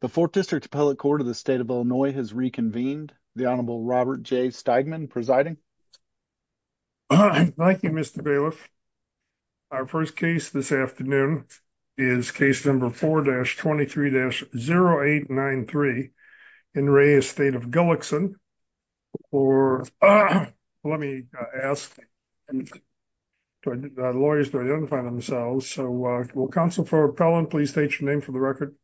The 4th District Appellate Court of the State of Illinois has reconvened. The Honorable Robert J. Steigman presiding. Thank you, Mr. Bailiff. Our first case this afternoon is case number 4-23-0893 in Reyes State of Gullikson. Let me ask the lawyers to identify themselves. Counsel for appellant, please state your name for the record.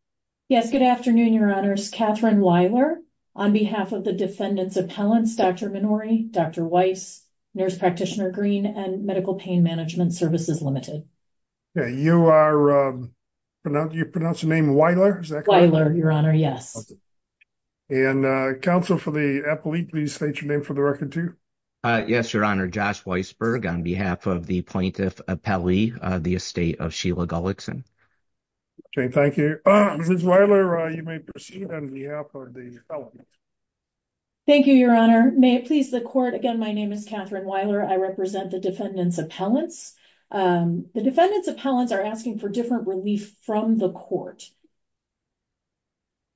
Yes, good afternoon, Your Honors. Kathryn Weiler on behalf of the Defendant's Appellants, Dr. Minori, Dr. Weiss, Nurse Practitioner Green, and Medical Pain Management Services Limited. You pronounce your name Weiler? Weiler, Your Honor, yes. Counsel for the appellate, please state your name for the record too. Yes, Your Honor. Josh Weisberg on behalf of the Plaintiff Appellee, the Estate of Sheila Gullikson. Thank you. Ms. Weiler, you may proceed on behalf of the appellant. Thank you, Your Honor. May it please the Court, again, my name is Kathryn Weiler. I represent the Defendant's Appellants. The Defendant's Appellants are asking for different relief from the Court.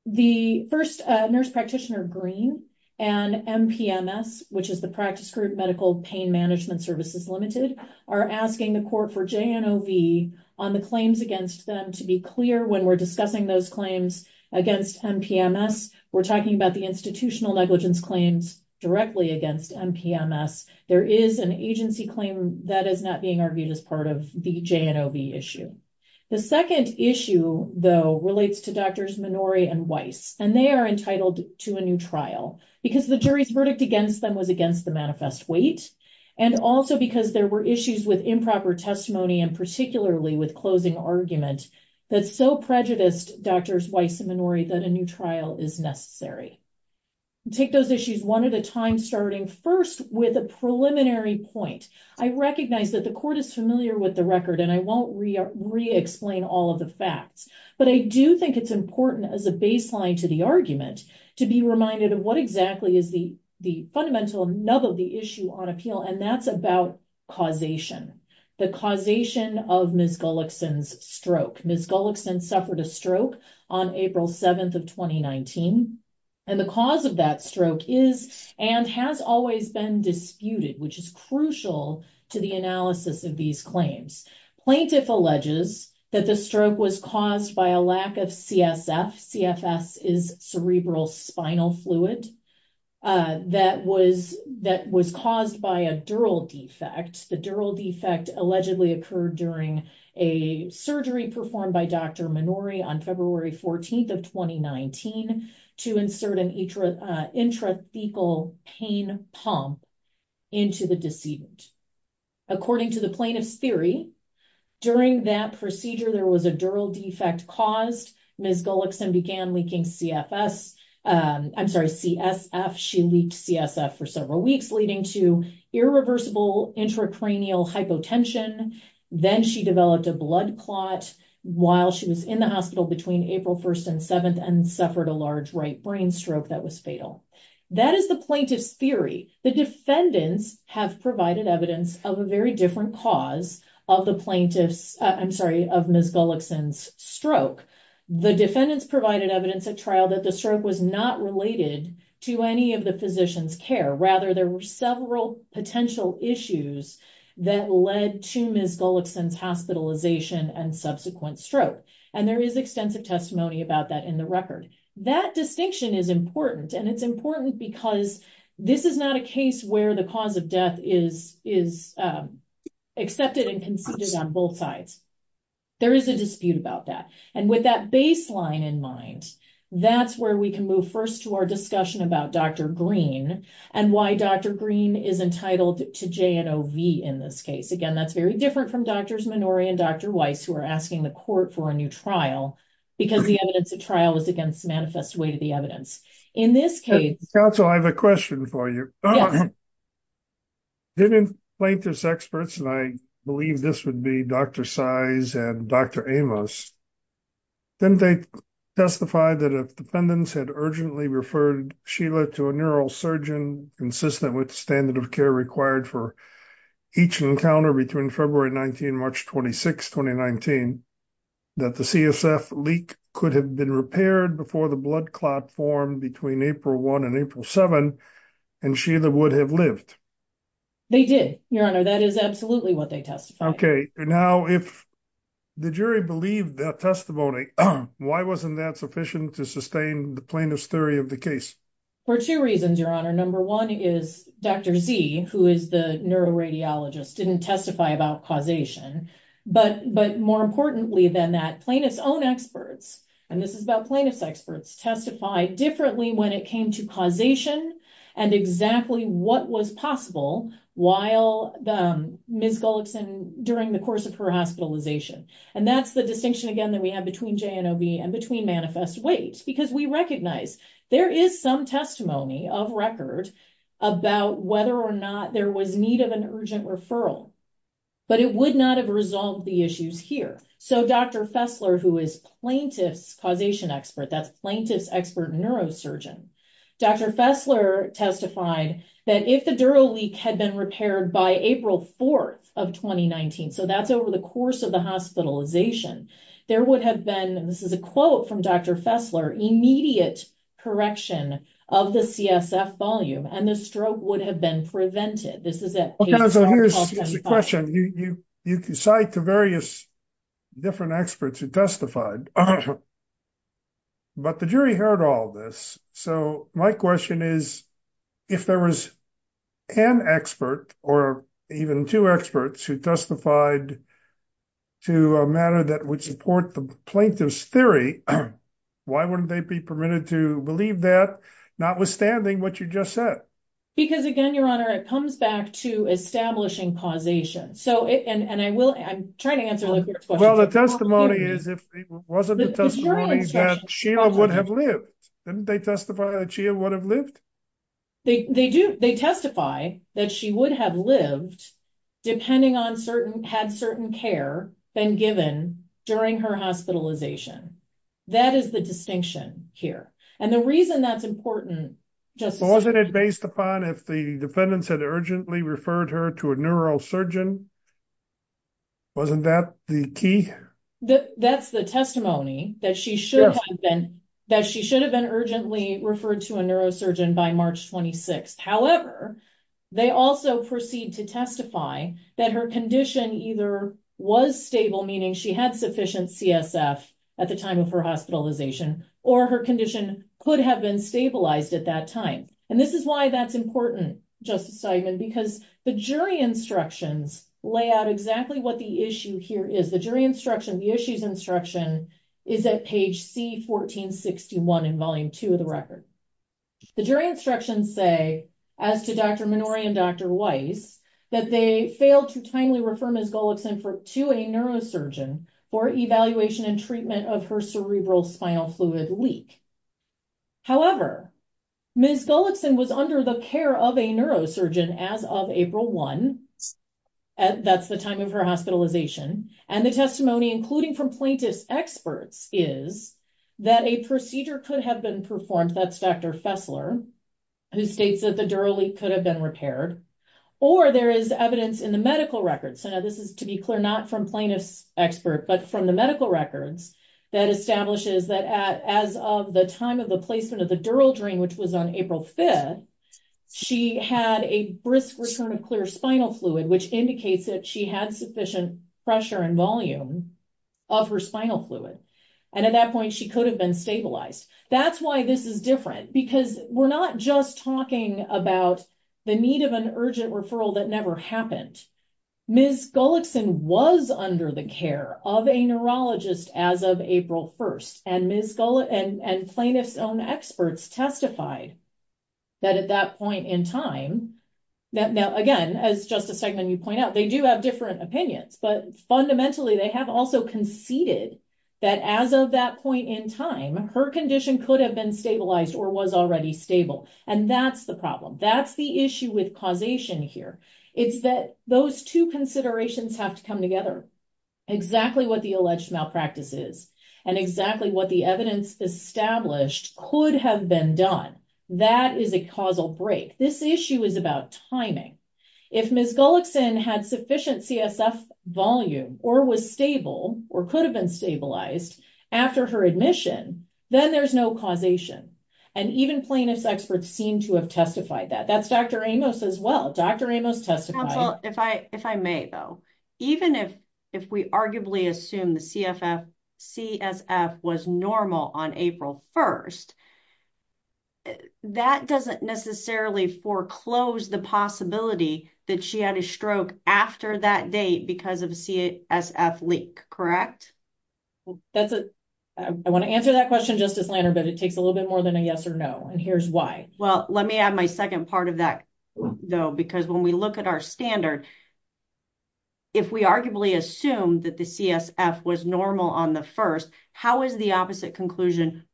The first, Nurse Practitioner Green and MPMS, which is the practice group, Medical Pain Management Services Limited, are asking the Court for JNOV on the claims against them to be clear when we're discussing those claims against MPMS. We're talking about the institutional negligence claims directly against MPMS. There is an agency claim that is not being argued as part of the JNOV issue. The second issue, though, relates to Drs. Minori and Weiss, and they are entitled to a new trial, because the jury's verdict against them was against the manifest weight, and also because there were issues with improper testimony, and particularly with closing argument, that so prejudiced Drs. Weiss and Minori that a new trial is necessary. Take those issues one at a time, starting first with a preliminary point. I recognize that the Court is familiar with the record, and I won't re-explain all of the facts, but I do think it's important as a baseline to the argument to be reminded of what exactly is the fundamental nub of the issue on appeal, and that's about causation, the causation of Ms. Gullickson's stroke. Ms. Gullickson suffered a stroke on April 7th of 2019, and the cause of that stroke is and has always been disputed, which is crucial to the analysis of these claims. Plaintiff alleges that the stroke was caused by a lack of CSF, CFS is cerebral spinal fluid, that was caused by a dural defect. The dural defect allegedly occurred during a surgery performed by Dr. Minori on February 14th of 2019 to insert an intrathecal pain pump into the decedent. According to the plaintiff's theory, during that procedure, there was a dural defect caused. Ms. Gullickson began leaking CFS, I'm sorry, CSF. She leaked CSF for several weeks, leading to irreversible intracranial hypotension. Then she developed a blood clot while she was in the hospital between April 1st and 7th and suffered a large right brain stroke that was fatal. That is the plaintiff's theory. The defendants have provided evidence of a very different cause of the plaintiff's, I'm sorry, of Ms. Gullickson's stroke. The defendants provided evidence at trial that the stroke was not related to any of the physician's care. Rather, there were several potential issues that led to Ms. Gullickson's hospitalization and subsequent stroke. And there is extensive testimony about that in the record. That distinction is important, and it's important because this is not a case where the cause of death is accepted and conceded on both sides. There is a dispute about that. And with that baseline in mind, that's where we can move first to our discussion about Dr. Green and why Dr. Green is entitled to J&OV in this case. Again, that's very different from Drs. Minori and Dr. Weiss who are asking the court for a new trial because the evidence at trial is against manifest way to the evidence. Counsel, I have a question for you. Yes. Didn't plaintiff's experts, and I believe this would be Dr. Size and Dr. Amos, didn't they testify that if defendants had urgently referred Sheila to a neural surgeon consistent with standard of care required for each encounter between February 19 and March 26, 2019, that the CSF leak could have been repaired before the blood clot formed between April 1 and April 7, and Sheila would have lived? They did, Your Honor. That is absolutely what they testified. Okay. Now, if the jury believed that testimony, why wasn't that sufficient to sustain the plaintiff's theory of the case? For two reasons, Your Honor. Number one is Dr. Z, who is the neuroradiologist, didn't testify about causation. But more importantly than that, plaintiff's own experts, and this is about plaintiff's experts, testified differently when it came to causation and exactly what was possible while Ms. Gullickson, during the course of her hospitalization. And that's the distinction, again, that we have between JNOB and between manifest weight, because we recognize there is some testimony of record about whether or not there was need of an urgent referral, but it would not have resolved the issues here. So Dr. Fessler, who is plaintiff's causation expert, that's plaintiff's expert neurosurgeon, Dr. Fessler testified that if the dural leak had been repaired by April 4 of 2019, so that's over the course of the hospitalization, there would have been, and this is a quote from Dr. Fessler, immediate correction of the CSF volume and the stroke would have been prevented. So here's the question. You cite the various different experts who testified, but the jury heard all this. So my question is, if there was an expert or even two experts who testified to a matter that would support the plaintiff's theory, why wouldn't they be permitted to believe that, notwithstanding what you just said? Because again, Your Honor, it comes back to establishing causation. So, and I will, I'm trying to answer the question. Well, the testimony is, if it wasn't the testimony that Sheila would have lived, didn't they testify that Sheila would have lived? They do, they testify that she would have lived, depending on certain, had certain care been given during her hospitalization. That is the distinction here. And the reason that's important. Wasn't it based upon if the defendants had urgently referred her to a neurosurgeon? Wasn't that the key? That's the testimony that she should have been, that she should have been urgently referred to a neurosurgeon by March 26. However, they also proceed to testify that her condition either was stable, meaning she had sufficient CSF at the time of her hospitalization, or her condition could have been stabilized at that time. And this is why that's important, Justice Steinman, because the jury instructions lay out exactly what the issue here is. The jury instruction, the issues instruction is at page C1461 in Volume 2 of the record. The jury instructions say, as to Dr. Minori and Dr. Weiss, that they failed to timely refer Ms. Gullickson to a neurosurgeon for evaluation and treatment of her cerebral spinal fluid leak. However, Ms. Gullickson was under the care of a neurosurgeon as of April 1. That's the time of her hospitalization. And the testimony, including from plaintiff's experts, is that a procedure could have been performed, that's Dr. Fessler, who states that the dural leak could have been repaired, or there is evidence in the medical records. Now, this is to be clear, not from plaintiff's expert, but from the medical records that establishes that as of the time of the placement of the dural drain, which was on April 5, she had a brisk return of clear spinal fluid, which indicates that she had sufficient pressure and volume of her spinal fluid. And at that point, she could have been stabilized. That's why this is different, because we're not just talking about the need of an urgent referral that never happened. Ms. Gullickson was under the care of a neurologist as of April 1. And Ms. Gullickson and plaintiff's own experts testified that at that point in time, that now, again, as Justice Eggman, you point out, they do have different opinions, but fundamentally, they have also conceded that as of that point in time, her condition could have been stabilized or was already stable. And that's the problem. That's the issue with causation here. It's that those two considerations have to come together, exactly what the alleged malpractice is, and exactly what the evidence established could have been done. That is a causal break. This issue is about timing. If Ms. Gullickson had sufficient CSF volume or was stable or could have been stabilized after her admission, then there's no causation. And even plaintiff's experts seem to have testified that. That's Dr. Amos as well. Dr. Amos testified. Well, if I may, though, even if we arguably assume the CSF was normal on April 1st, that doesn't necessarily foreclose the possibility that she had a stroke after that date because of a CSF leak, correct? I want to answer that question, Justice Lanner, but it takes a little bit more than a yes or no. And here's why. Well, let me add my second part of that, though, because when we look at our standard, if we arguably assume that the CSF was normal on the 1st, how is the opposite conclusion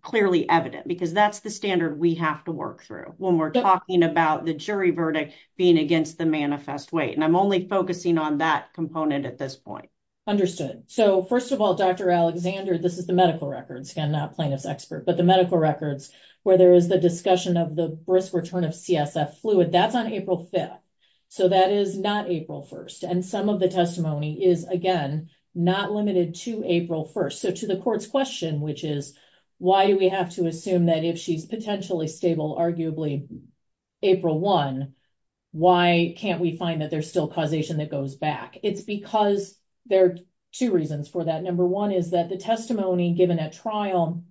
clearly evident? Because that's the standard we have to work through when we're talking about the jury verdict being against the manifest weight. And I'm only focusing on that component at this point. Understood. So, first of all, Dr. Alexander, this is the medical records, again, not plaintiff's expert, but the medical records where there is the discussion of the brisk return of CSF fluid. That's on April 5th. So that is not April 1st. And some of the testimony is, again, not limited to April 1st. So to the court's question, which is, why do we have to assume that if she's potentially stable, arguably April 1, why can't we find that there's still causation that goes back? It's because there are two reasons for that. Number one is that the testimony given at trial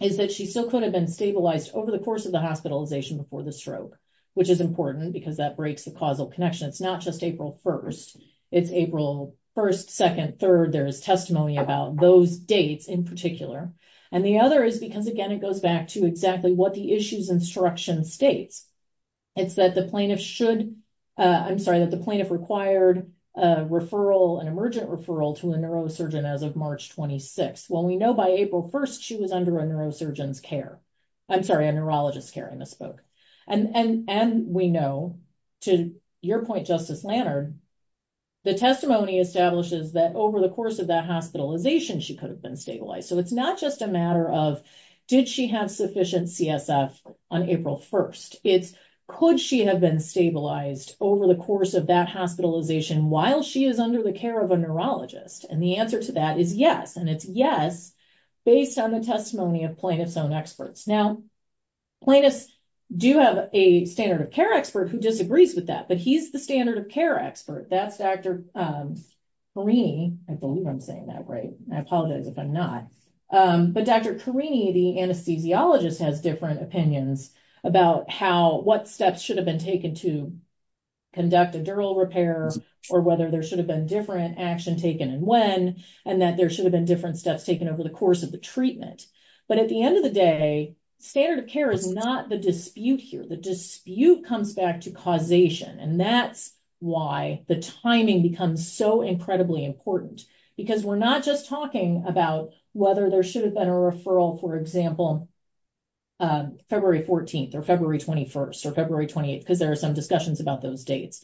is that she still could have been stabilized over the course of the hospitalization before the stroke, which is important because that breaks the causal connection. It's not just April 1st. It's April 1st, 2nd, 3rd. There is testimony about those dates in particular. And the other is because, again, it goes back to exactly what the issues instruction states. It's that the plaintiff should, I'm sorry, that the plaintiff required an emergent referral to a neurosurgeon as of March 26th. Well, we know by April 1st, she was under a neurosurgeon's care. I'm sorry, a neurologist's care, I misspoke. And we know, to your point, Justice Lannard, the testimony establishes that over the course of that hospitalization, she could have been stabilized. So it's not just a matter of, did she have sufficient CSF on April 1st? It's, could she have been stabilized over the course of that hospitalization while she is under the care of a neurologist? And the answer to that is yes. And it's yes, based on the testimony of plaintiff's own experts. Now, plaintiffs do have a standard of care expert who disagrees with that, but he's the standard of care expert. That's Dr. Carini. I believe I'm saying that right. I apologize if I'm not. But Dr. Carini, the anesthesiologist, has different opinions about how, what steps should have been taken to conduct a dural repair, or whether there should have been different action taken and when, and that there should have been different steps taken over the course of the treatment. But at the end of the day, standard of care is not the dispute here. The dispute comes back to causation. And that's why the timing becomes so incredibly important, because we're not just talking about whether there should have been a referral, for example, February 14th or February 21st or February 28th, because there are some discussions about those dates.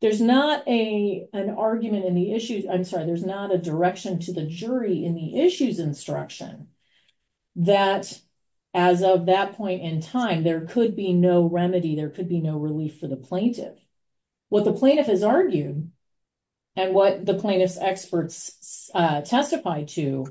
There's not an argument in the issues, I'm sorry, there's not a direction to the jury in the issues instruction that as of that point in time, there could be no remedy, there could be no relief for the plaintiff. What the plaintiff has argued, and what the plaintiff's experts testified to,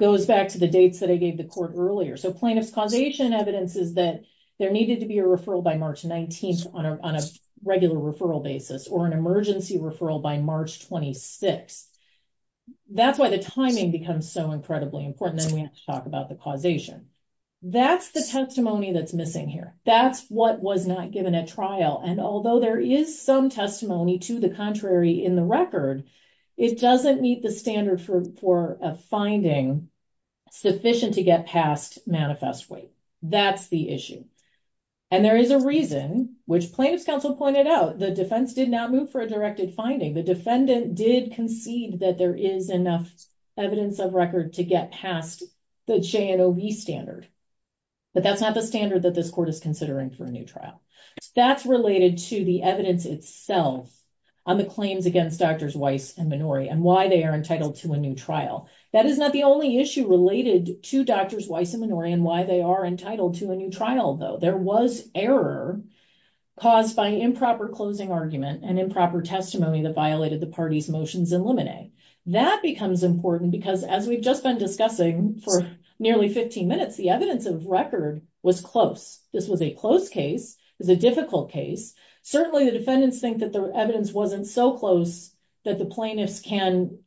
goes back to the dates that I gave the court earlier. So plaintiff's causation evidence is that there needed to be a referral by March 19th on a regular referral basis, or an emergency referral by March 26th. That's why the timing becomes so incredibly important, and we have to talk about the causation. That's the testimony that's missing here. That's what was not given at trial. And although there is some testimony to the contrary in the record, it doesn't meet the standard for a finding sufficient to get past manifest wait. That's the issue. And there is a reason, which plaintiff's counsel pointed out, the defense did not move for a directed finding. The defendant did concede that there is enough evidence of record to get past the Cheyenne OB standard. But that's not the standard that this court is considering for a new trial. That's related to the evidence itself on the claims against Drs. Weiss and Minori, and why they are entitled to a new trial. That is not the only issue related to Drs. Weiss and Minori, and why they are entitled to a new trial, though. There was error caused by improper closing argument and improper testimony that violated the party's motions in limine. That becomes important because, as we've just been discussing for nearly 15 minutes, the evidence of record was close. This was a close case. It was a difficult case. Certainly, the defendants think that the evidence wasn't so close that the plaintiffs can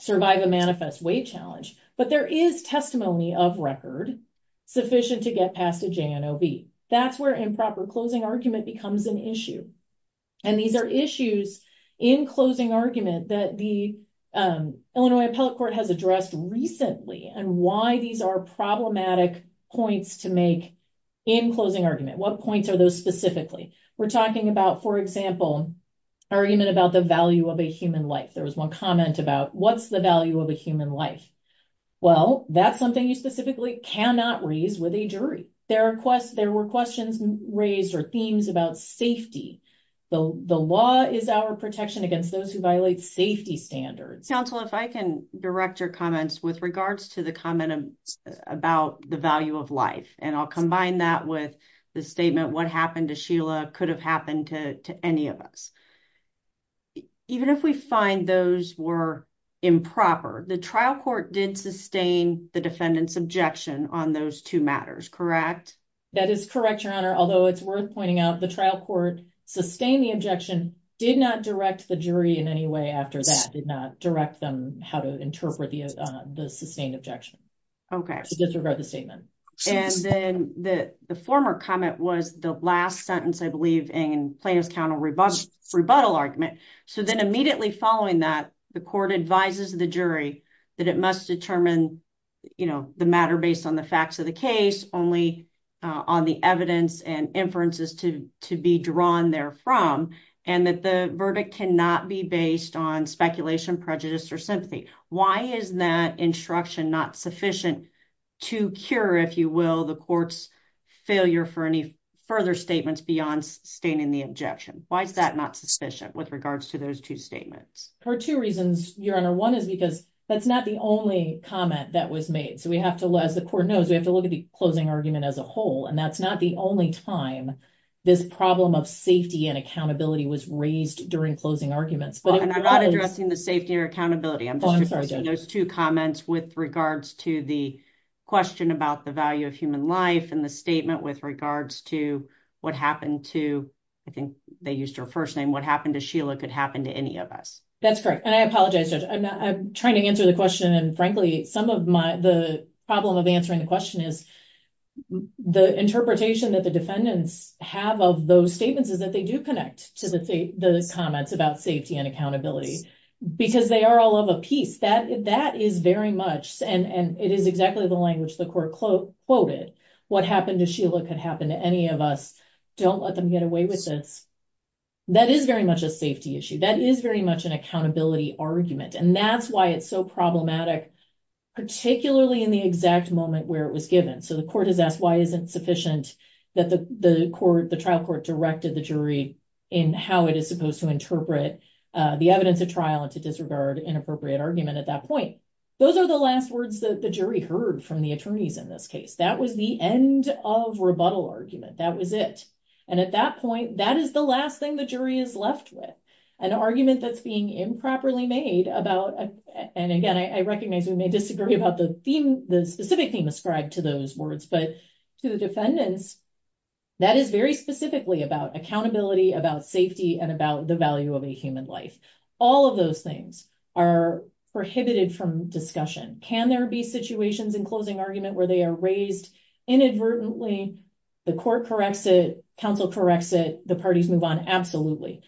survive a manifest wait challenge. But there is testimony of record sufficient to get past a Cheyenne OB. That's where improper closing argument becomes an issue. And these are issues in closing argument that the Illinois Appellate Court has addressed recently, and why these are problematic points to make in closing argument. What points are those specifically? We're talking about, for example, argument about the value of a human life. There was one comment about what's the value of a human life? Well, that's something you specifically cannot raise with a jury. There were questions raised or themes about safety. The law is our protection against those who violate safety standards. Counsel, if I can direct your comments with regards to the comment about the value of life, and I'll combine that with the statement, what happened to Sheila could have happened to any of us. Even if we find those were improper, the trial court did sustain the defendant's objection on those two matters, correct? That is correct, Your Honor, although it's worth pointing out the trial court sustained the objection, did not direct the jury in any way after that, did not direct them how to interpret the sustained objection. Okay, disregard the statement. And then the former comment was the last sentence, I believe, in Plano's counter-rebuttal argument. So then immediately following that, the court advises the jury that it must determine the matter based on the facts of the case, only on the evidence and inferences to be drawn therefrom, and that the verdict cannot be based on speculation, prejudice, or sympathy. Why is that instruction not sufficient to cure, if you will, the court's failure for any further statements beyond sustaining the objection? Why is that not sufficient with regards to those two statements? For two reasons, Your Honor. One is because that's not the only comment that was made. So we have to, as the court knows, we have to look at the closing argument as a whole, and that's not the only time this problem of safety and accountability was raised during closing arguments. And I'm not addressing the safety or accountability. I'm just addressing those two comments with regards to the question about the value of human life and the statement with regards to what happened to, I think they used her first name, what happened to Sheila could happen to any of us. That's correct. And I apologize, Judge. I'm trying to answer the question, and frankly, some of the problem of answering the question is the interpretation that the defendants have of those statements is that they do connect to the comments about safety and accountability, because they are all of a piece. That is very much, and it is exactly the language the court quoted, what happened to Sheila could happen to any of us. Don't let them get away with this. That is very much a safety issue. That is very much an accountability argument. And that's why it's so problematic, particularly in the exact moment where it was given. So the court has asked why isn't sufficient that the trial court directed the jury in how it is supposed to interpret the evidence of trial and to disregard inappropriate argument at that point. Those are the last words that the jury heard from the attorneys in this case. That was the end of rebuttal argument. That was it. And at that point, that is the last thing the jury is left with, an argument that's being improperly made about. And again, I recognize we may disagree about the specific theme ascribed to those words, but to the defendants, that is very specifically about accountability, about safety, and about the value of a human life. All of those things are prohibited from discussion. Can there be situations in closing argument where they are raised inadvertently, the court corrects it, counsel corrects it, the parties move on? Absolutely.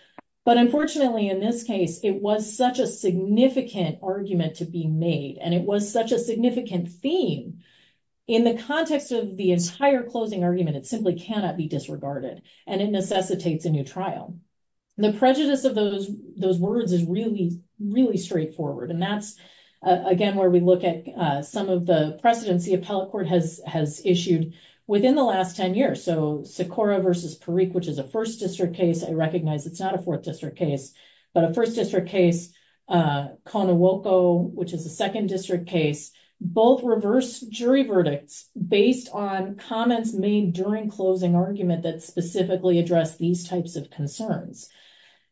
But unfortunately, in this case, it was such a significant argument to be made, and it was such a significant theme. In the context of the entire closing argument, it simply cannot be disregarded, and it necessitates a new trial. The prejudice of those words is really, really straightforward. And that's, again, where we look at some of the precedence the appellate court has issued within the last 10 years. So, Sikora v. Parikh, which is a 1st District case, I recognize it's not a 4th District case, but a 1st District case. Konowoko, which is a 2nd District case, both reverse jury verdicts based on comments made during closing argument that specifically address these types of concerns.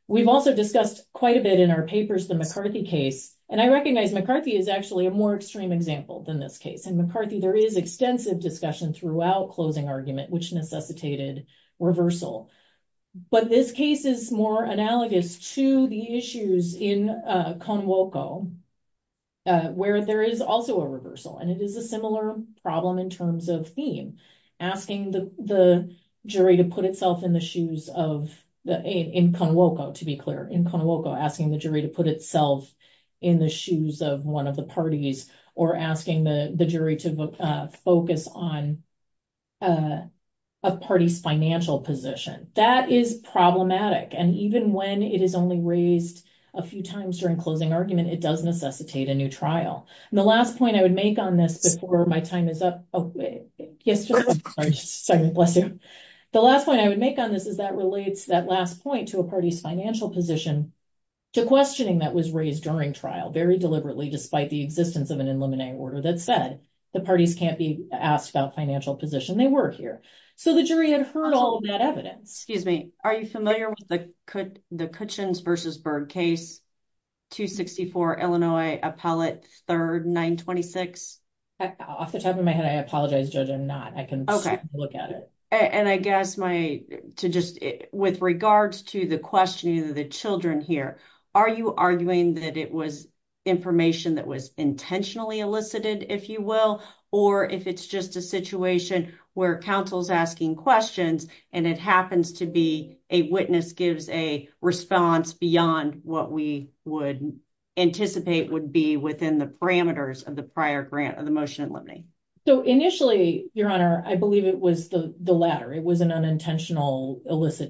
We've also discussed quite a bit in our papers the McCarthy case, and I recognize McCarthy is actually a more extreme example than this case. In McCarthy, there is extensive discussion throughout closing argument, which necessitated reversal. But this case is more analogous to the issues in Konowoko, where there is also a reversal. And it is a similar problem in terms of theme. Asking the jury to put itself in the shoes of—in Konowoko, to be clear. In Konowoko, asking the jury to put itself in the shoes of one of the parties, or asking the jury to focus on a party's financial position. That is problematic, and even when it is only raised a few times during closing argument, it does necessitate a new trial. And the last point I would make on this before my time is up— Oh, yes, just a second. Bless you. The last point I would make on this is that relates that last point to a party's financial position to questioning that was raised during trial, very deliberately, despite the existence of an eliminating order that said the parties can't be asked about financial position. They were here. So the jury had heard all of that evidence. Excuse me. Are you familiar with the Kitchens v. Berg case, 264 Illinois Appellate 3rd, 926? Off the top of my head, I apologize, Judge, I'm not. I can look at it. And I guess my—to just—with regards to the questioning of the children here, are you arguing that it was information that was intentionally elicited, if you will, or if it's just a situation where counsel's asking questions and it happens to be a witness gives a response beyond what we would anticipate would be within the parameters of the prior grant of the motion eliminating? So initially, Your Honor, I believe it was the latter. It was an unintentional—it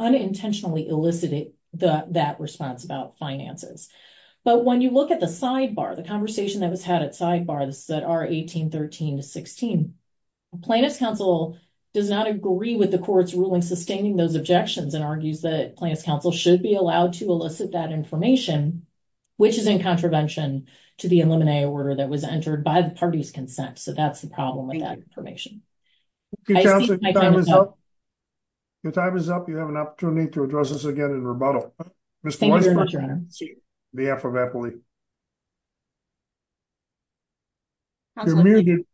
unintentionally elicited that response about finances. But when you look at the sidebar, the conversation that was had at sidebars that are 1813 to 16, Plaintiff's counsel does not agree with the court's ruling sustaining those objections and argues that plaintiff's counsel should be allowed to elicit that information, which is in contravention to the eliminate order that was entered by the party's consent. So that's the problem with that information. Your time is up. You have an opportunity to address this again in rebuttal. Thank you very much, Your Honor. See you. May I have a rebuttal, please? Absolutely.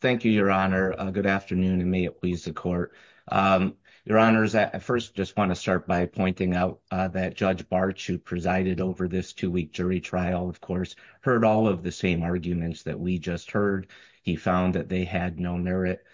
Thank you, Your Honor. Good afternoon, and may it please the court. Your Honors, I first just want to start by pointing out that Judge Bartsch, who presided over this two-week jury trial, of course, heard all of the same arguments that we just heard. He found that they had no merit.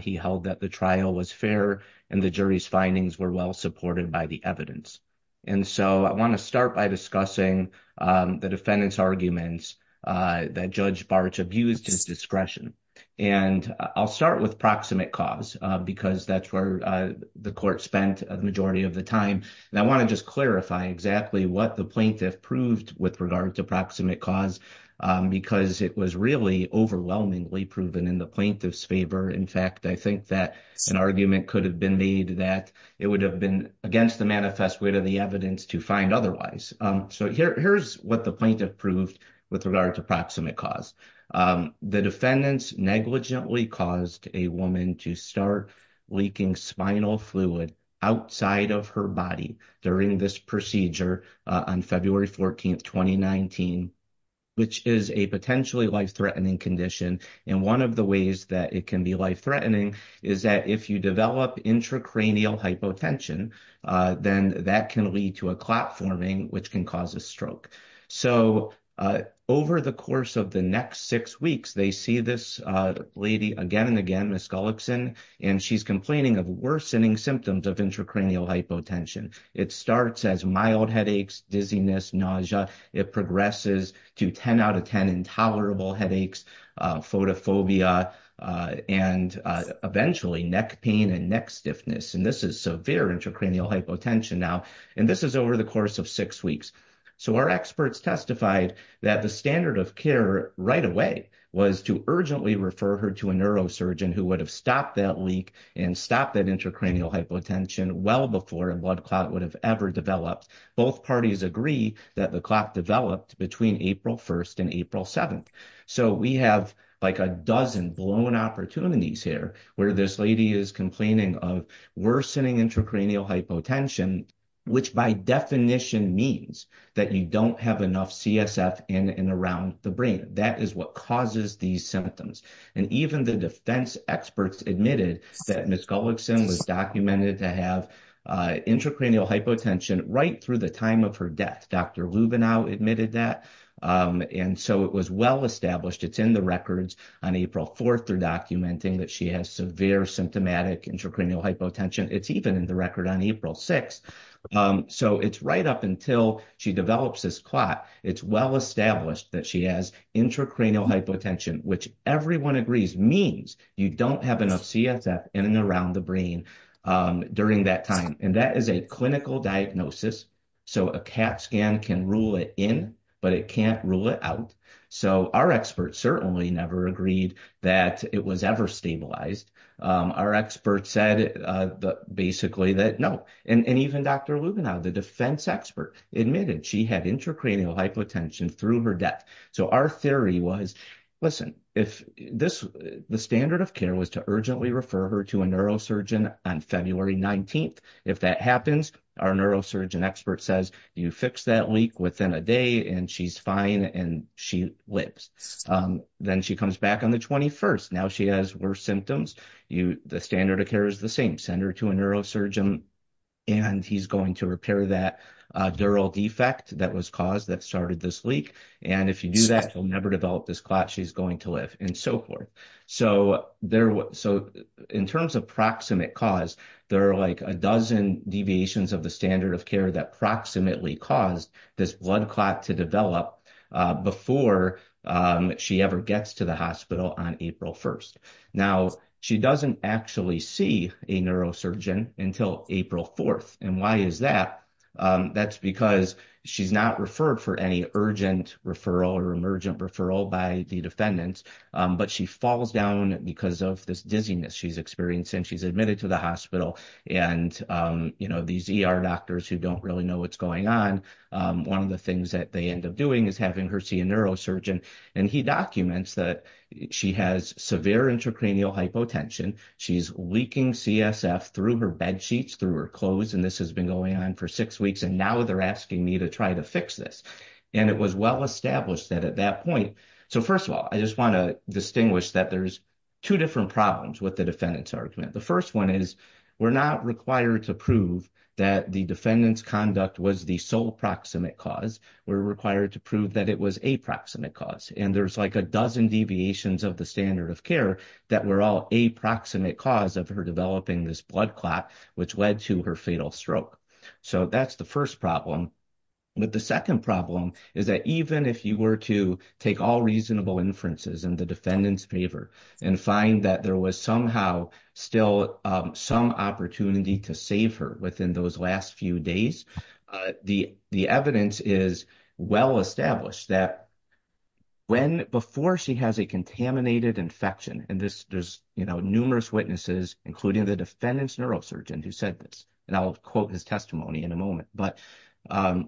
He held that the trial was fair and the jury's findings were well supported by the evidence. And so I want to start by discussing the defendant's arguments that Judge Bartsch abused his discretion. And I'll start with proximate cause, because that's where the court spent the majority of the time. And I want to just clarify exactly what the plaintiff proved with regard to proximate cause, because it was really overwhelmingly proven in the plaintiff's favor. In fact, I think that an argument could have been made that it would have been against the manifest wit of the evidence to find otherwise. So here's what the plaintiff proved with regard to proximate cause. The defendants negligently caused a woman to start leaking spinal fluid outside of her body during this procedure on February 14th, 2019, which is a potentially life-threatening condition. And one of the ways that it can be life-threatening is that if you develop intracranial hypotension, then that can lead to a clot forming, which can cause a stroke. So over the course of the next six weeks, they see this lady again and again, Ms. Gullickson, and she's complaining of worsening symptoms of intracranial hypotension. It starts as mild headaches, dizziness, nausea. It progresses to 10 out of 10 intolerable headaches, photophobia, and eventually neck pain and neck stiffness. And this is severe intracranial hypotension now. And this is over the course of six weeks. So our experts testified that the standard of care right away was to urgently refer her to a neurosurgeon who would have stopped that leak and stopped that intracranial hypotension well before a blood clot would have ever developed. Both parties agree that the clot developed between April 1st and April 7th. So we have like a dozen blown opportunities here where this lady is complaining of worsening intracranial hypotension, which by definition means that you don't have enough CSF in and around the brain. That is what causes these symptoms. And even the defense experts admitted that Ms. Gullickson was documented to have intracranial hypotension right through the time of her death. Dr. Lubenow admitted that. And so it was well established. It's in the records on April 4th. They're documenting that she has severe symptomatic intracranial hypotension. It's even in the record on April 6th. So it's right up until she develops this clot. It's well established that she has intracranial hypotension, which everyone agrees means you don't have enough CSF in and around the brain during that time. And that is a clinical diagnosis. So a CAT scan can rule it in, but it can't rule it out. So our experts certainly never agreed that it was ever stabilized. Our experts said basically that no. And even Dr. Lubenow, the defense expert, admitted she had intracranial hypotension through her death. So our theory was, listen, if the standard of care was to urgently refer her to a neurosurgeon on February 19th. If that happens, our neurosurgeon expert says you fix that leak within a day and she's fine and she lives. Then she comes back on the 21st. Now she has worse symptoms. The standard of care is the same. Send her to a neurosurgeon and he's going to repair that neural defect that was caused that started this leak. And if you do that, she'll never develop this clot. She's going to live and so forth. So in terms of proximate cause, there are like a dozen deviations of the standard of care that proximately caused this blood clot to develop before she ever gets to the hospital on April 1st. Now, she doesn't actually see a neurosurgeon until April 4th. And why is that? That's because she's not referred for any urgent referral or emergent referral by the defendants. But she falls down because of this dizziness she's experiencing. She's admitted to the hospital. And, you know, these ER doctors who don't really know what's going on, one of the things that they end up doing is having her see a neurosurgeon. And he documents that she has severe intracranial hypotension. She's leaking CSF through her bed sheets, through her clothes. And this has been going on for six weeks. And now they're asking me to try to fix this. And it was well established that at that point. So, first of all, I just want to distinguish that there's two different problems with the defendant's argument. The first one is we're not required to prove that the defendant's conduct was the sole proximate cause. We're required to prove that it was a proximate cause. And there's like a dozen deviations of the standard of care that were all a proximate cause of her developing this blood clot, which led to her fatal stroke. So that's the first problem. But the second problem is that even if you were to take all reasonable inferences in the defendant's favor and find that there was somehow still some opportunity to save her within those last few days. The evidence is well established that before she has a contaminated infection. And there's numerous witnesses, including the defendant's neurosurgeon, who said this. And I'll quote his testimony in a moment. But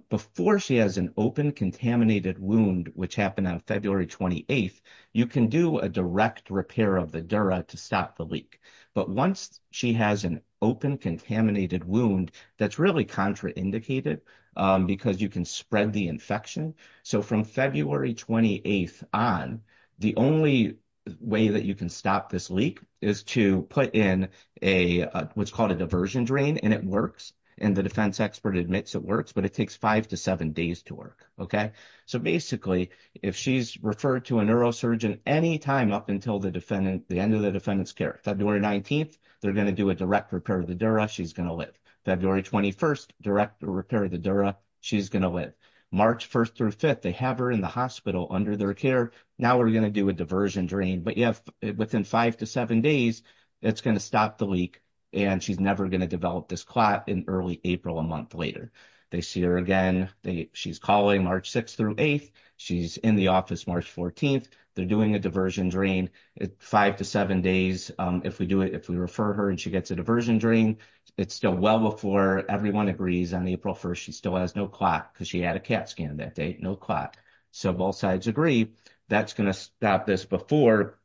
before she has an open contaminated wound, which happened on February 28th, you can do a direct repair of the dura to stop the leak. But once she has an open contaminated wound, that's really contraindicated because you can spread the infection. So from February 28th on, the only way that you can stop this leak is to put in a what's called a diversion drain and it works. And the defense expert admits it works, but it takes five to seven days to work. OK, so basically, if she's referred to a neurosurgeon any time up until the defendant, the end of the defendant's care, February 19th, they're going to do a direct repair of the dura. She's going to live February 21st direct repair of the dura. She's going to live March 1st through 5th. They have her in the hospital under their care. Now we're going to do a diversion drain. But if within five to seven days, it's going to stop the leak and she's never going to develop this clot in early April a month later. They see her again. She's calling March 6th through 8th. She's in the office March 14th. They're doing a diversion drain five to seven days. If we do it, if we refer her and she gets a diversion drain, it's still well before everyone agrees on April 1st. She still has no clot because she had a CAT scan that day. No clot. So both sides agree that's going to stop this before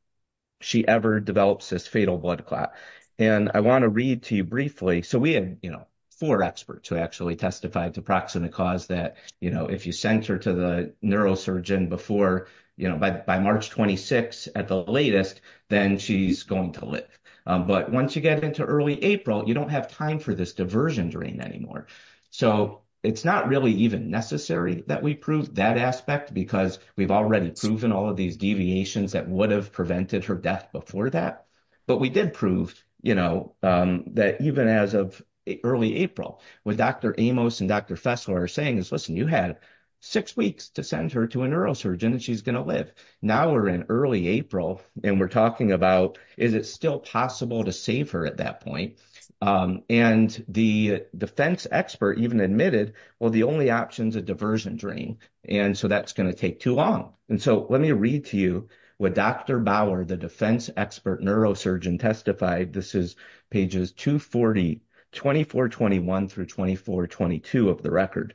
she ever develops this fatal blood clot. And I want to read to you briefly. So we have, you know, four experts who actually testified to proximate cause that, you know, if you sent her to the neurosurgeon before, you know, by March 26th at the latest, then she's going to live. But once you get into early April, you don't have time for this diversion drain anymore. So it's not really even necessary that we prove that aspect because we've already proven all of these deviations that would have prevented her death before that. But we did prove, you know, that even as of early April, what Dr. Amos and Dr. Fessler are saying is, listen, you had six weeks to send her to a neurosurgeon and she's going to live. Now we're in early April and we're talking about is it still possible to save her at that point? And the defense expert even admitted, well, the only option is a diversion drain. And so that's going to take too long. And so let me read to you what Dr. Bauer, the defense expert neurosurgeon, testified. This is pages 240, 2421 through 2422 of the record.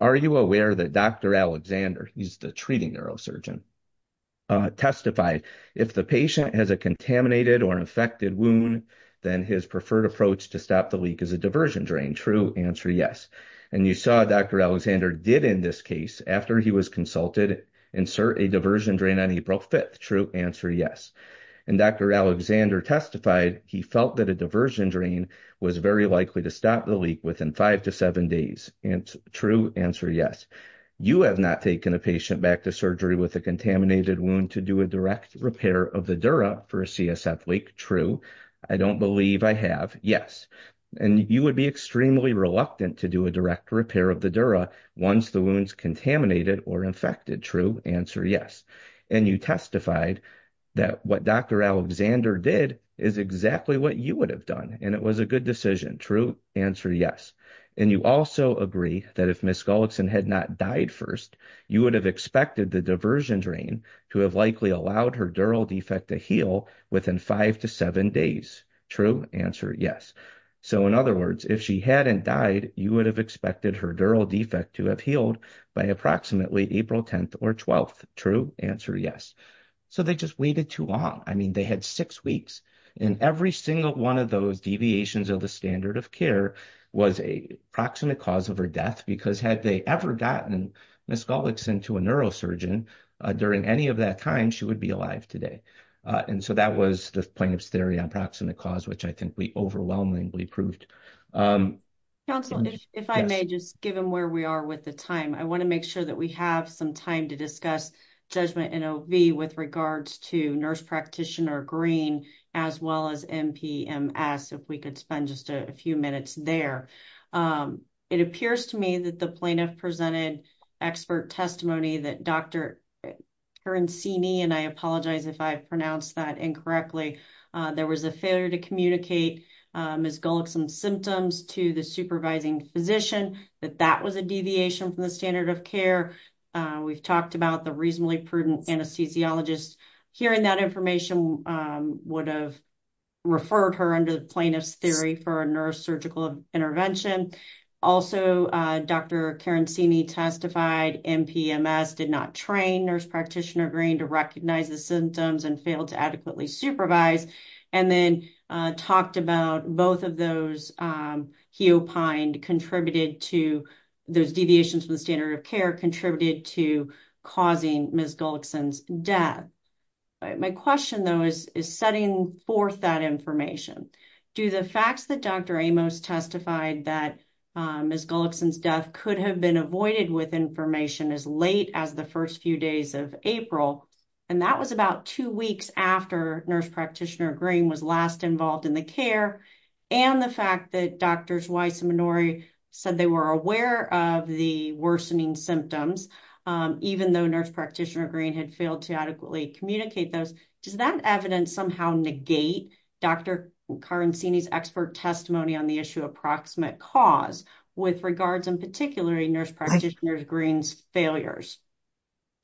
Are you aware that Dr. Alexander, he's the treating neurosurgeon, testified, if the patient has a contaminated or infected wound, then his preferred approach to stop the leak is a diversion drain? True. Answer, yes. And you saw Dr. Alexander did in this case, after he was consulted, insert a diversion drain on April 5th. True. Answer, yes. And Dr. Alexander testified he felt that a diversion drain was very likely to stop the leak within five to seven days. True. Answer, yes. You have not taken a patient back to surgery with a contaminated wound to do a direct repair of the dura for a CSF leak. True. I don't believe I have. Yes. And you would be extremely reluctant to do a direct repair of the dura once the wound's contaminated or infected. True. Answer, yes. And you testified that what Dr. Alexander did is exactly what you would have done. And it was a good decision. True. Answer, yes. And you also agree that if Ms. Gullickson had not died first, you would have expected the diversion drain to have likely allowed her dural defect to heal within five to seven days. True. Answer, yes. So in other words, if she hadn't died, you would have expected her dural defect to have healed by approximately April 10th or 12th. True. Answer, yes. So they just waited too long. I mean, they had six weeks. And every single one of those deviations of the standard of care was a proximate cause of her death because had they ever gotten Ms. Gullickson to a neurosurgeon during any of that time, she would be alive today. And so that was the plaintiff's theory on proximate cause, which I think we overwhelmingly approved. Counsel, if I may, just given where we are with the time, I want to make sure that we have some time to discuss judgment in OB with regards to nurse practitioner Green, as well as MPMS, if we could spend just a few minutes there. It appears to me that the plaintiff presented expert testimony that Dr. Herancini, and I apologize if I pronounced that incorrectly, there was a failure to communicate Ms. Gullickson's symptoms to the supervising physician, that that was a deviation from the standard of care. We've talked about the reasonably prudent anesthesiologist. Hearing that information would have referred her under the plaintiff's theory for a neurosurgical intervention. Also, Dr. Herancini testified MPMS did not train nurse practitioner Green to recognize the symptoms and failed to adequately supervise. And then talked about both of those he opined contributed to those deviations from the standard of care contributed to causing Ms. Gullickson's death. My question, though, is setting forth that information. Do the facts that Dr. Amos testified that Ms. Gullickson's death could have been avoided with information as late as the first few days of April, and that was about two weeks after nurse practitioner Green was last involved in the care. And the fact that Drs. Weiss and Minori said they were aware of the worsening symptoms, even though nurse practitioner Green had failed to adequately communicate those. Does that evidence somehow negate Dr. Herancini's expert testimony on the issue of proximate cause with regards in particular nurse practitioner Green's failures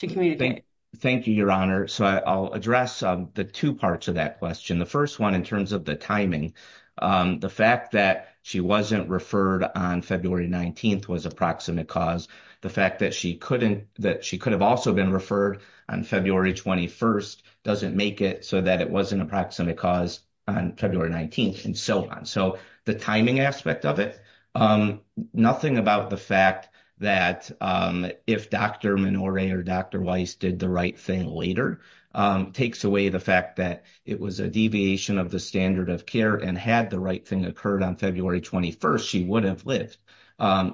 to communicate? Thank you, Your Honor. So I'll address the two parts of that question. The first one, in terms of the timing, the fact that she wasn't referred on February 19th was a proximate cause. The fact that she couldn't that she could have also been referred on February 21st doesn't make it so that it wasn't a proximate cause on February 19th and so on. So the timing aspect of it, nothing about the fact that if Dr. Minori or Dr. Weiss did the right thing later takes away the fact that it was a deviation of the standard of care and had the right thing occurred on February 21st, she would have lived.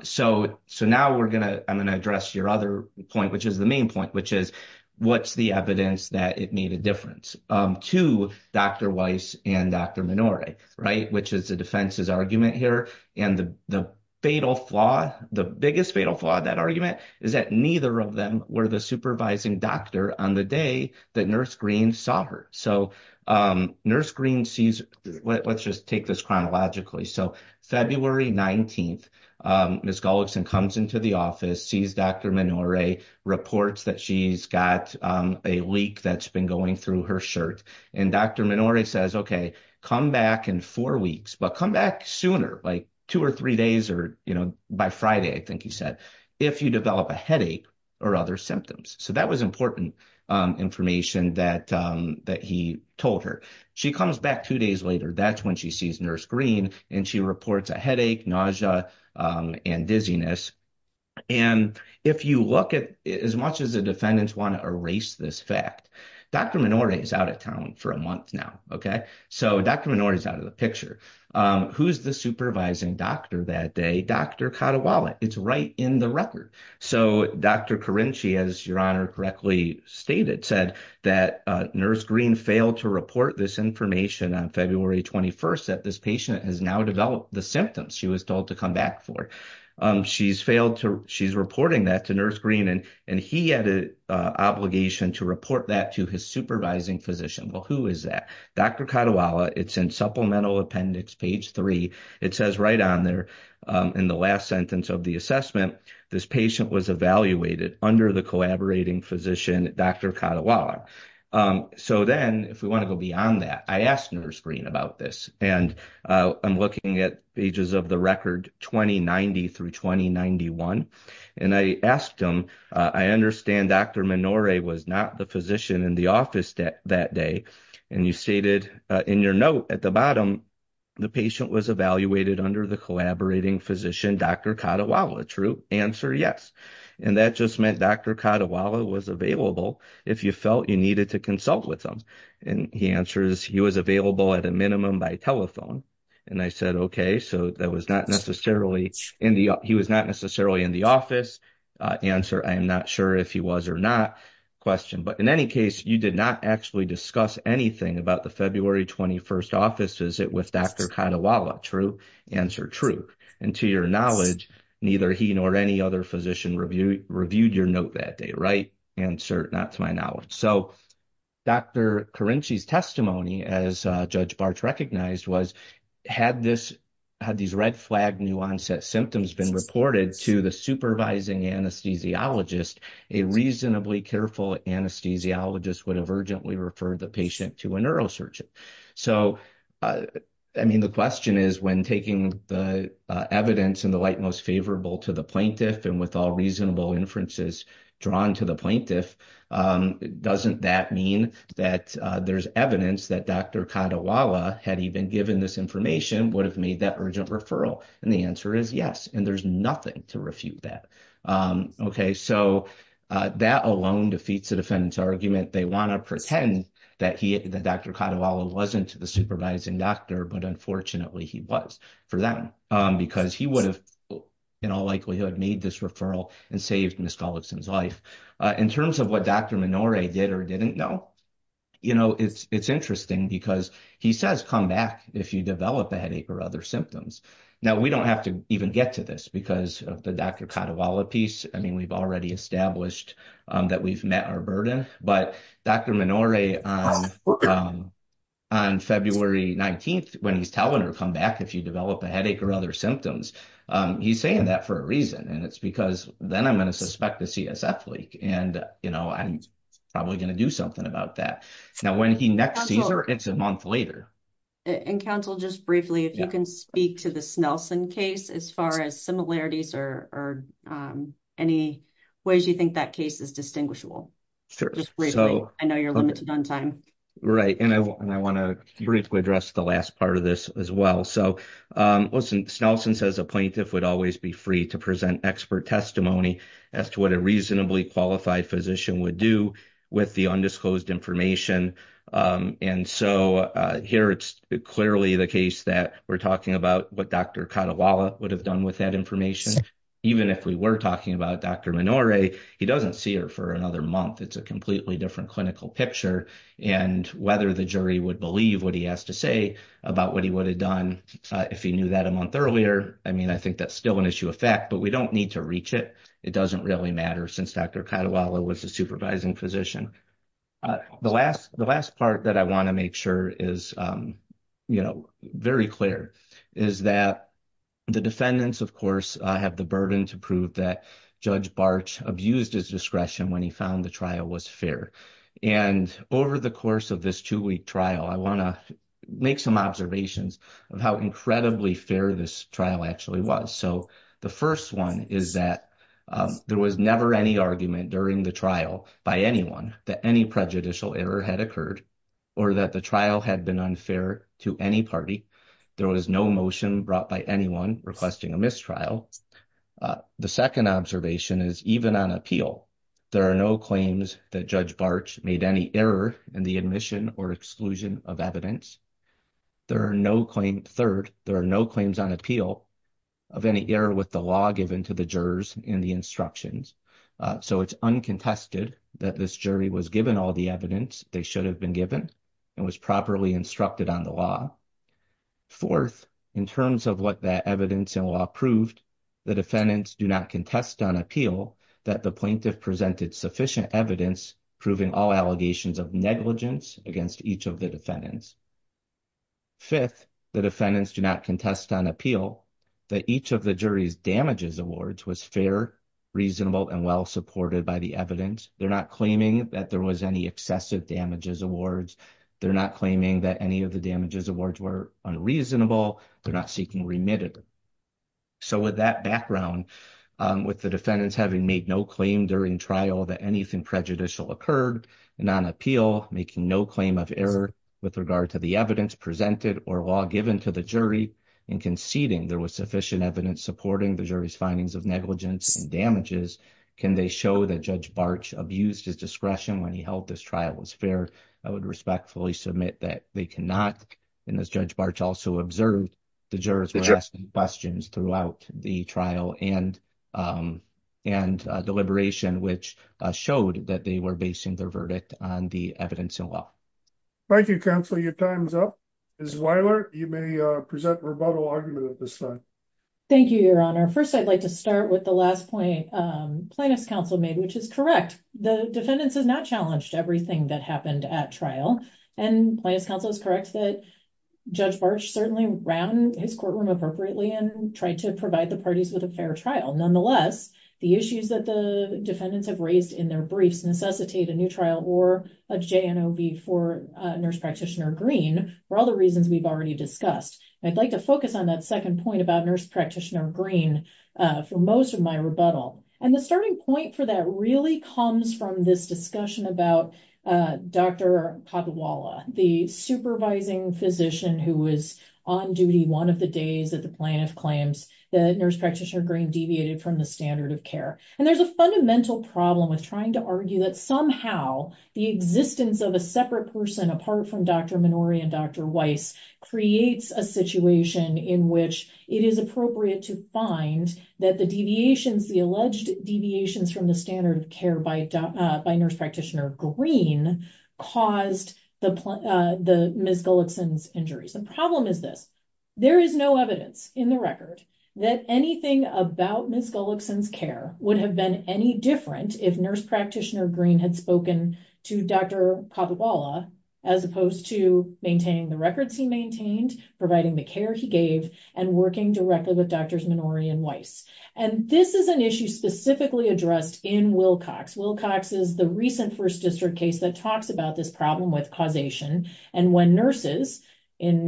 So so now we're going to I'm going to address your other point, which is the main point, which is what's the evidence that it made a difference to Dr. Weiss and Dr. Minori. Right. Which is the defense's argument here. And the fatal flaw, the biggest fatal flaw of that argument is that neither of them were the supervising doctor on the day that nurse Green saw her. So nurse Green sees let's just take this chronologically. So February 19th, Ms. Gullickson comes into the office, sees Dr. Minori, reports that she's got a leak that's been going through her shirt. And Dr. Minori says, OK, come back in four weeks, but come back sooner, like two or three days or by Friday, I think he said, if you develop a headache or other symptoms. So that was important information that that he told her. She comes back two days later. That's when she sees nurse Green and she reports a headache, nausea and dizziness. And if you look at as much as the defendants want to erase this fact, Dr. Minori is out of town for a month now. OK, so Dr. Minori is out of the picture. Who's the supervising doctor that day? Dr. Katawala. It's right in the record. So Dr. Carinci, as your honor correctly stated, said that nurse Green failed to report this information on February 21st, that this patient has now developed the symptoms she was told to come back for. She's reporting that to nurse Green and he had an obligation to report that to his supervising physician. Well, who is that? Dr. Katawala. It's in supplemental appendix page three. It says right on there in the last sentence of the assessment, this patient was evaluated under the collaborating physician, Dr. Katawala. So then if we want to go beyond that, I asked nurse Green about this and I'm looking at pages of the record 2090 through 2091. And I asked him, I understand Dr. Minori was not the physician in the office that that day. And you stated in your note at the bottom, the patient was evaluated under the collaborating physician, Dr. Katawala. True answer, yes. And that just meant Dr. Katawala was available if you felt you needed to consult with him. And he answers, he was available at a minimum by telephone. And I said, okay, so that was not necessarily in the, he was not necessarily in the office. Answer, I'm not sure if he was or not. Question, but in any case, you did not actually discuss anything about the February 21st offices with Dr. Katawala. True answer, true. And to your knowledge, neither he nor any other physician reviewed reviewed your note that day. Right. True answer, not to my knowledge. So Dr. Karinci's testimony as Judge Bart recognized was, had this, had these red flag new onset symptoms been reported to the supervising anesthesiologist, a reasonably careful anesthesiologist would have urgently referred the patient to a neurosurgeon. So, I mean, the question is, when taking the evidence in the light most favorable to the plaintiff and with all reasonable inferences drawn to the plaintiff, doesn't that mean that there's evidence that Dr. Katawala had even given this information would have made that urgent referral? And the answer is yes. And there's nothing to refute that. Okay, so that alone defeats the defendant's argument. They want to pretend that he, that Dr. Katawala wasn't the supervising doctor, but unfortunately he was for them because he would have in all likelihood made this referral and saved Ms. Gullickson's life. In terms of what Dr. Minore did or didn't know, you know, it's interesting because he says, come back if you develop a headache or other symptoms. Now, we don't have to even get to this because of the Dr. Katawala piece. I mean, we've already established that we've met our burden, but Dr. Minore on February 19th, when he's telling her, come back if you develop a headache or other symptoms, he's saying that for a reason. And it's because then I'm going to suspect a CSF leak and, you know, I'm probably going to do something about that. Now, when he next sees her, it's a month later. And counsel, just briefly, if you can speak to the Snelson case, as far as similarities or any ways you think that case is distinguishable. I know you're limited on time. Right. And I want to briefly address the last part of this as well. So, listen, Snelson says a plaintiff would always be free to present expert testimony as to what a reasonably qualified physician would do with the undisclosed information. And so here it's clearly the case that we're talking about what Dr. Katawala would have done with that information. Even if we were talking about Dr. Minore, he doesn't see her for another month. It's a completely different clinical picture. And whether the jury would believe what he has to say about what he would have done if he knew that a month earlier. I mean, I think that's still an issue of fact, but we don't need to reach it. It doesn't really matter since Dr. Katawala was a supervising physician. The last part that I want to make sure is very clear is that the defendants, of course, have the burden to prove that Judge Bartsch abused his discretion when he found the trial was fair. And over the course of this two week trial, I want to make some observations of how incredibly fair this trial actually was. So the first one is that there was never any argument during the trial by anyone that any prejudicial error had occurred or that the trial had been unfair to any party. There was no motion brought by anyone requesting a mistrial. The second observation is even on appeal, there are no claims that Judge Bartsch made any error in the admission or exclusion of evidence. Third, there are no claims on appeal of any error with the law given to the jurors in the instructions. So it's uncontested that this jury was given all the evidence they should have been given and was properly instructed on the law. Fourth, in terms of what that evidence and law proved, the defendants do not contest on appeal that the plaintiff presented sufficient evidence proving all allegations of negligence against each of the defendants. Fifth, the defendants do not contest on appeal that each of the jury's damages awards was fair, reasonable, and well supported by the evidence. They're not claiming that there was any excessive damages awards. They're not claiming that any of the damages awards were unreasonable. They're not seeking remitted. So with that background, with the defendants having made no claim during trial that anything prejudicial occurred, and on appeal making no claim of error with regard to the evidence presented or law given to the jury, and conceding there was sufficient evidence supporting the jury's findings of negligence and damages, can they show that Judge Bartsch abused his discretion when he held this trial as fair? I would respectfully submit that they cannot, and as Judge Bartsch also observed, the jurors were asking questions throughout the trial and deliberation, which showed that they were basing their verdict on the evidence and law. Thank you, Counsel. Your time's up. Ms. Weiler, you may present rebuttal argument at this time. Thank you, Your Honor. First, I'd like to start with the last point Plaintiff's Counsel made, which is correct. The defendants have not challenged everything that happened at trial. And Plaintiff's Counsel is correct that Judge Bartsch certainly ran his courtroom appropriately and tried to provide the parties with a fair trial. Nonetheless, the issues that the defendants have raised in their briefs necessitate a new trial or a JNOB for Nurse Practitioner Green for all the reasons we've already discussed. I'd like to focus on that second point about Nurse Practitioner Green for most of my rebuttal. And the starting point for that really comes from this discussion about Dr. Kadwala, the supervising physician who was on duty one of the days that the plaintiff claims that Nurse Practitioner Green deviated from the standard of care. And there's a fundamental problem with trying to argue that somehow the existence of a separate person apart from Dr. Minori and Dr. Weiss creates a situation in which it is appropriate to find that the deviations, the alleged deviations from the standard of care by Nurse Practitioner Green caused Ms. Gullickson's injuries. The problem is this. There is no evidence in the record that anything about Ms. Gullickson's care would have been any different if Nurse Practitioner Green had spoken to Dr. Kadwala as opposed to maintaining the records he maintained, providing the care he gave, and working directly with Drs. Minori and Weiss. And this is an issue specifically addressed in Wilcox. Wilcox is the recent First District case that talks about this problem with causation. And when nurses, in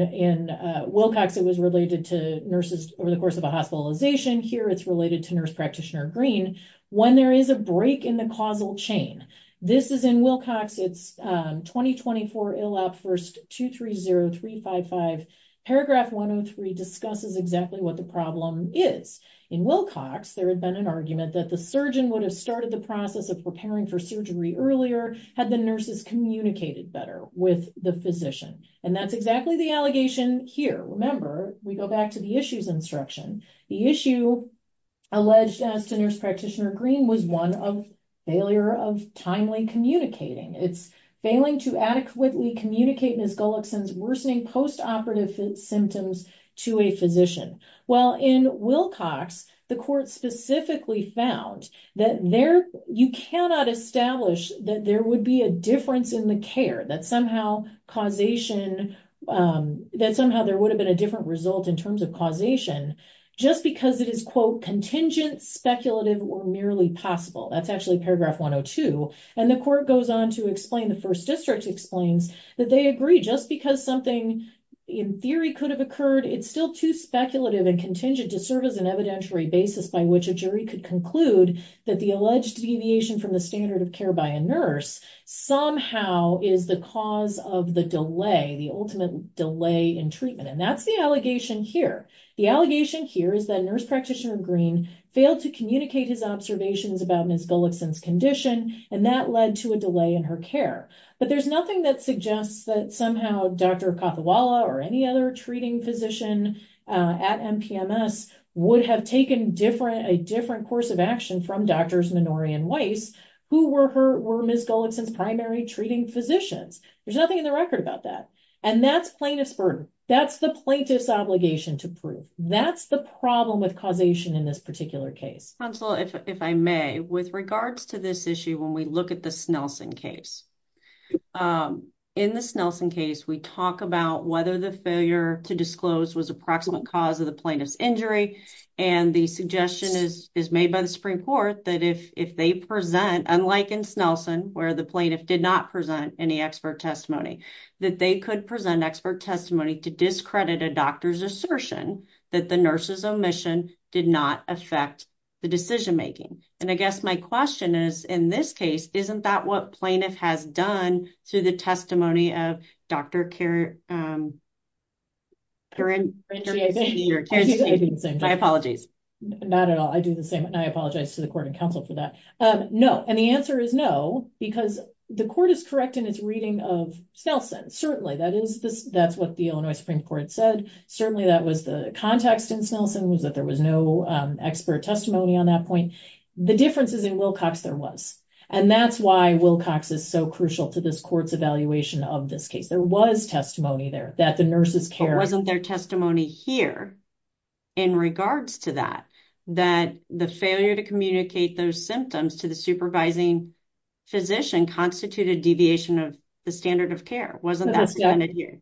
Wilcox it was related to nurses over the course of a hospitalization. Here it's related to Nurse Practitioner Green. When there is a break in the causal chain. This is in Wilcox. It's 2024 ILAP First 230355. Paragraph 103 discusses exactly what the problem is. In Wilcox, there had been an argument that the surgeon would have started the process of preparing for surgery earlier had the nurses communicated better with the physician. And that's exactly the allegation here. Remember, we go back to the issues instruction. The issue alleged as to Nurse Practitioner Green was one of failure of timely communicating. It's failing to adequately communicate Ms. Gullickson's worsening post-operative symptoms to a physician. Well, in Wilcox, the court specifically found that there, you cannot establish that there would be a difference in the care. That somehow causation, that somehow there would have been a different result in terms of causation just because it is quote contingent, speculative, or merely possible. That's actually paragraph 102. And the court goes on to explain, the first district explains that they agree just because something in theory could have occurred, it's still too speculative and contingent to serve as an evidentiary basis by which a jury could conclude that the alleged deviation from the standard of care by a nurse somehow is the cause of the delay, the ultimate delay in treatment. And that's the allegation here. The allegation here is that Nurse Practitioner Green failed to communicate his observations about Ms. Gullickson's condition, and that led to a delay in her care. But there's nothing that suggests that somehow Dr. Kothewala or any other treating physician at MPMS would have taken a different course of action from Drs. Minori and Weiss, who were Ms. Gullickson's primary treating physicians. There's nothing in the record about that. And that's plaintiff's burden. That's the plaintiff's obligation to prove. That's the problem with causation in this particular case. Counsel, if I may, with regards to this issue, when we look at the Snelson case, in the Snelson case, we talk about whether the failure to disclose was approximate cause of the plaintiff's injury. And the suggestion is made by the Supreme Court that if they present, unlike in Snelson, where the plaintiff did not present any expert testimony, that they could present expert testimony to discredit a doctor's assertion that the nurse's omission did not affect the decision making. And I guess my question is, in this case, isn't that what plaintiff has done to the testimony of Dr. Karensky? My apologies. Not at all. I do the same. And I apologize to the court and counsel for that. No. And the answer is no, because the court is correct in its reading of Snelson. Certainly, that's what the Illinois Supreme Court said. Certainly, that was the context in Snelson was that there was no expert testimony on that point. The difference is in Wilcox, there was. And that's why Wilcox is so crucial to this court's evaluation of this case. There was testimony there that the nurses care. There wasn't their testimony here in regards to that, that the failure to communicate those symptoms to the supervising physician constituted deviation of the standard of care. Wasn't that stated here?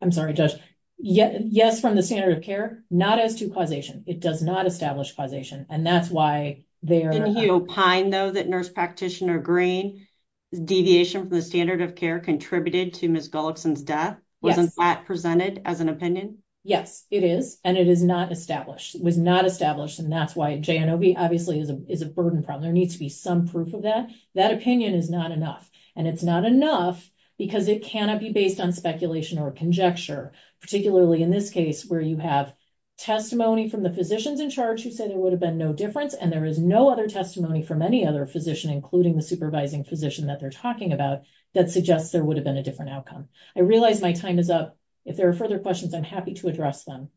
I'm sorry, Judge. Yes, from the standard of care, not as to causation. It does not establish causation. And that's why there. Can you opine, though, that nurse practitioner Green deviation from the standard of care contributed to Ms. Gullickson's death? Wasn't that presented as an opinion? Yes, it is. And it is not established, was not established. And that's why J.N.O.B. obviously is a burden problem. There needs to be some proof of that. That opinion is not enough. And it's not enough because it cannot be based on speculation or conjecture, particularly in this case where you have testimony from the physicians in charge who said it would have been no difference. And there is no other testimony from any other physician, including the supervising physician that they're talking about that suggests there would have been a different outcome. I realize my time is up. If there are further questions, I'm happy to address them.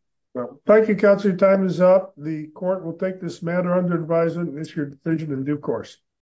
Thank you, Counselor. Your time is up. The court will take this matter under advisement and issue a decision in due course.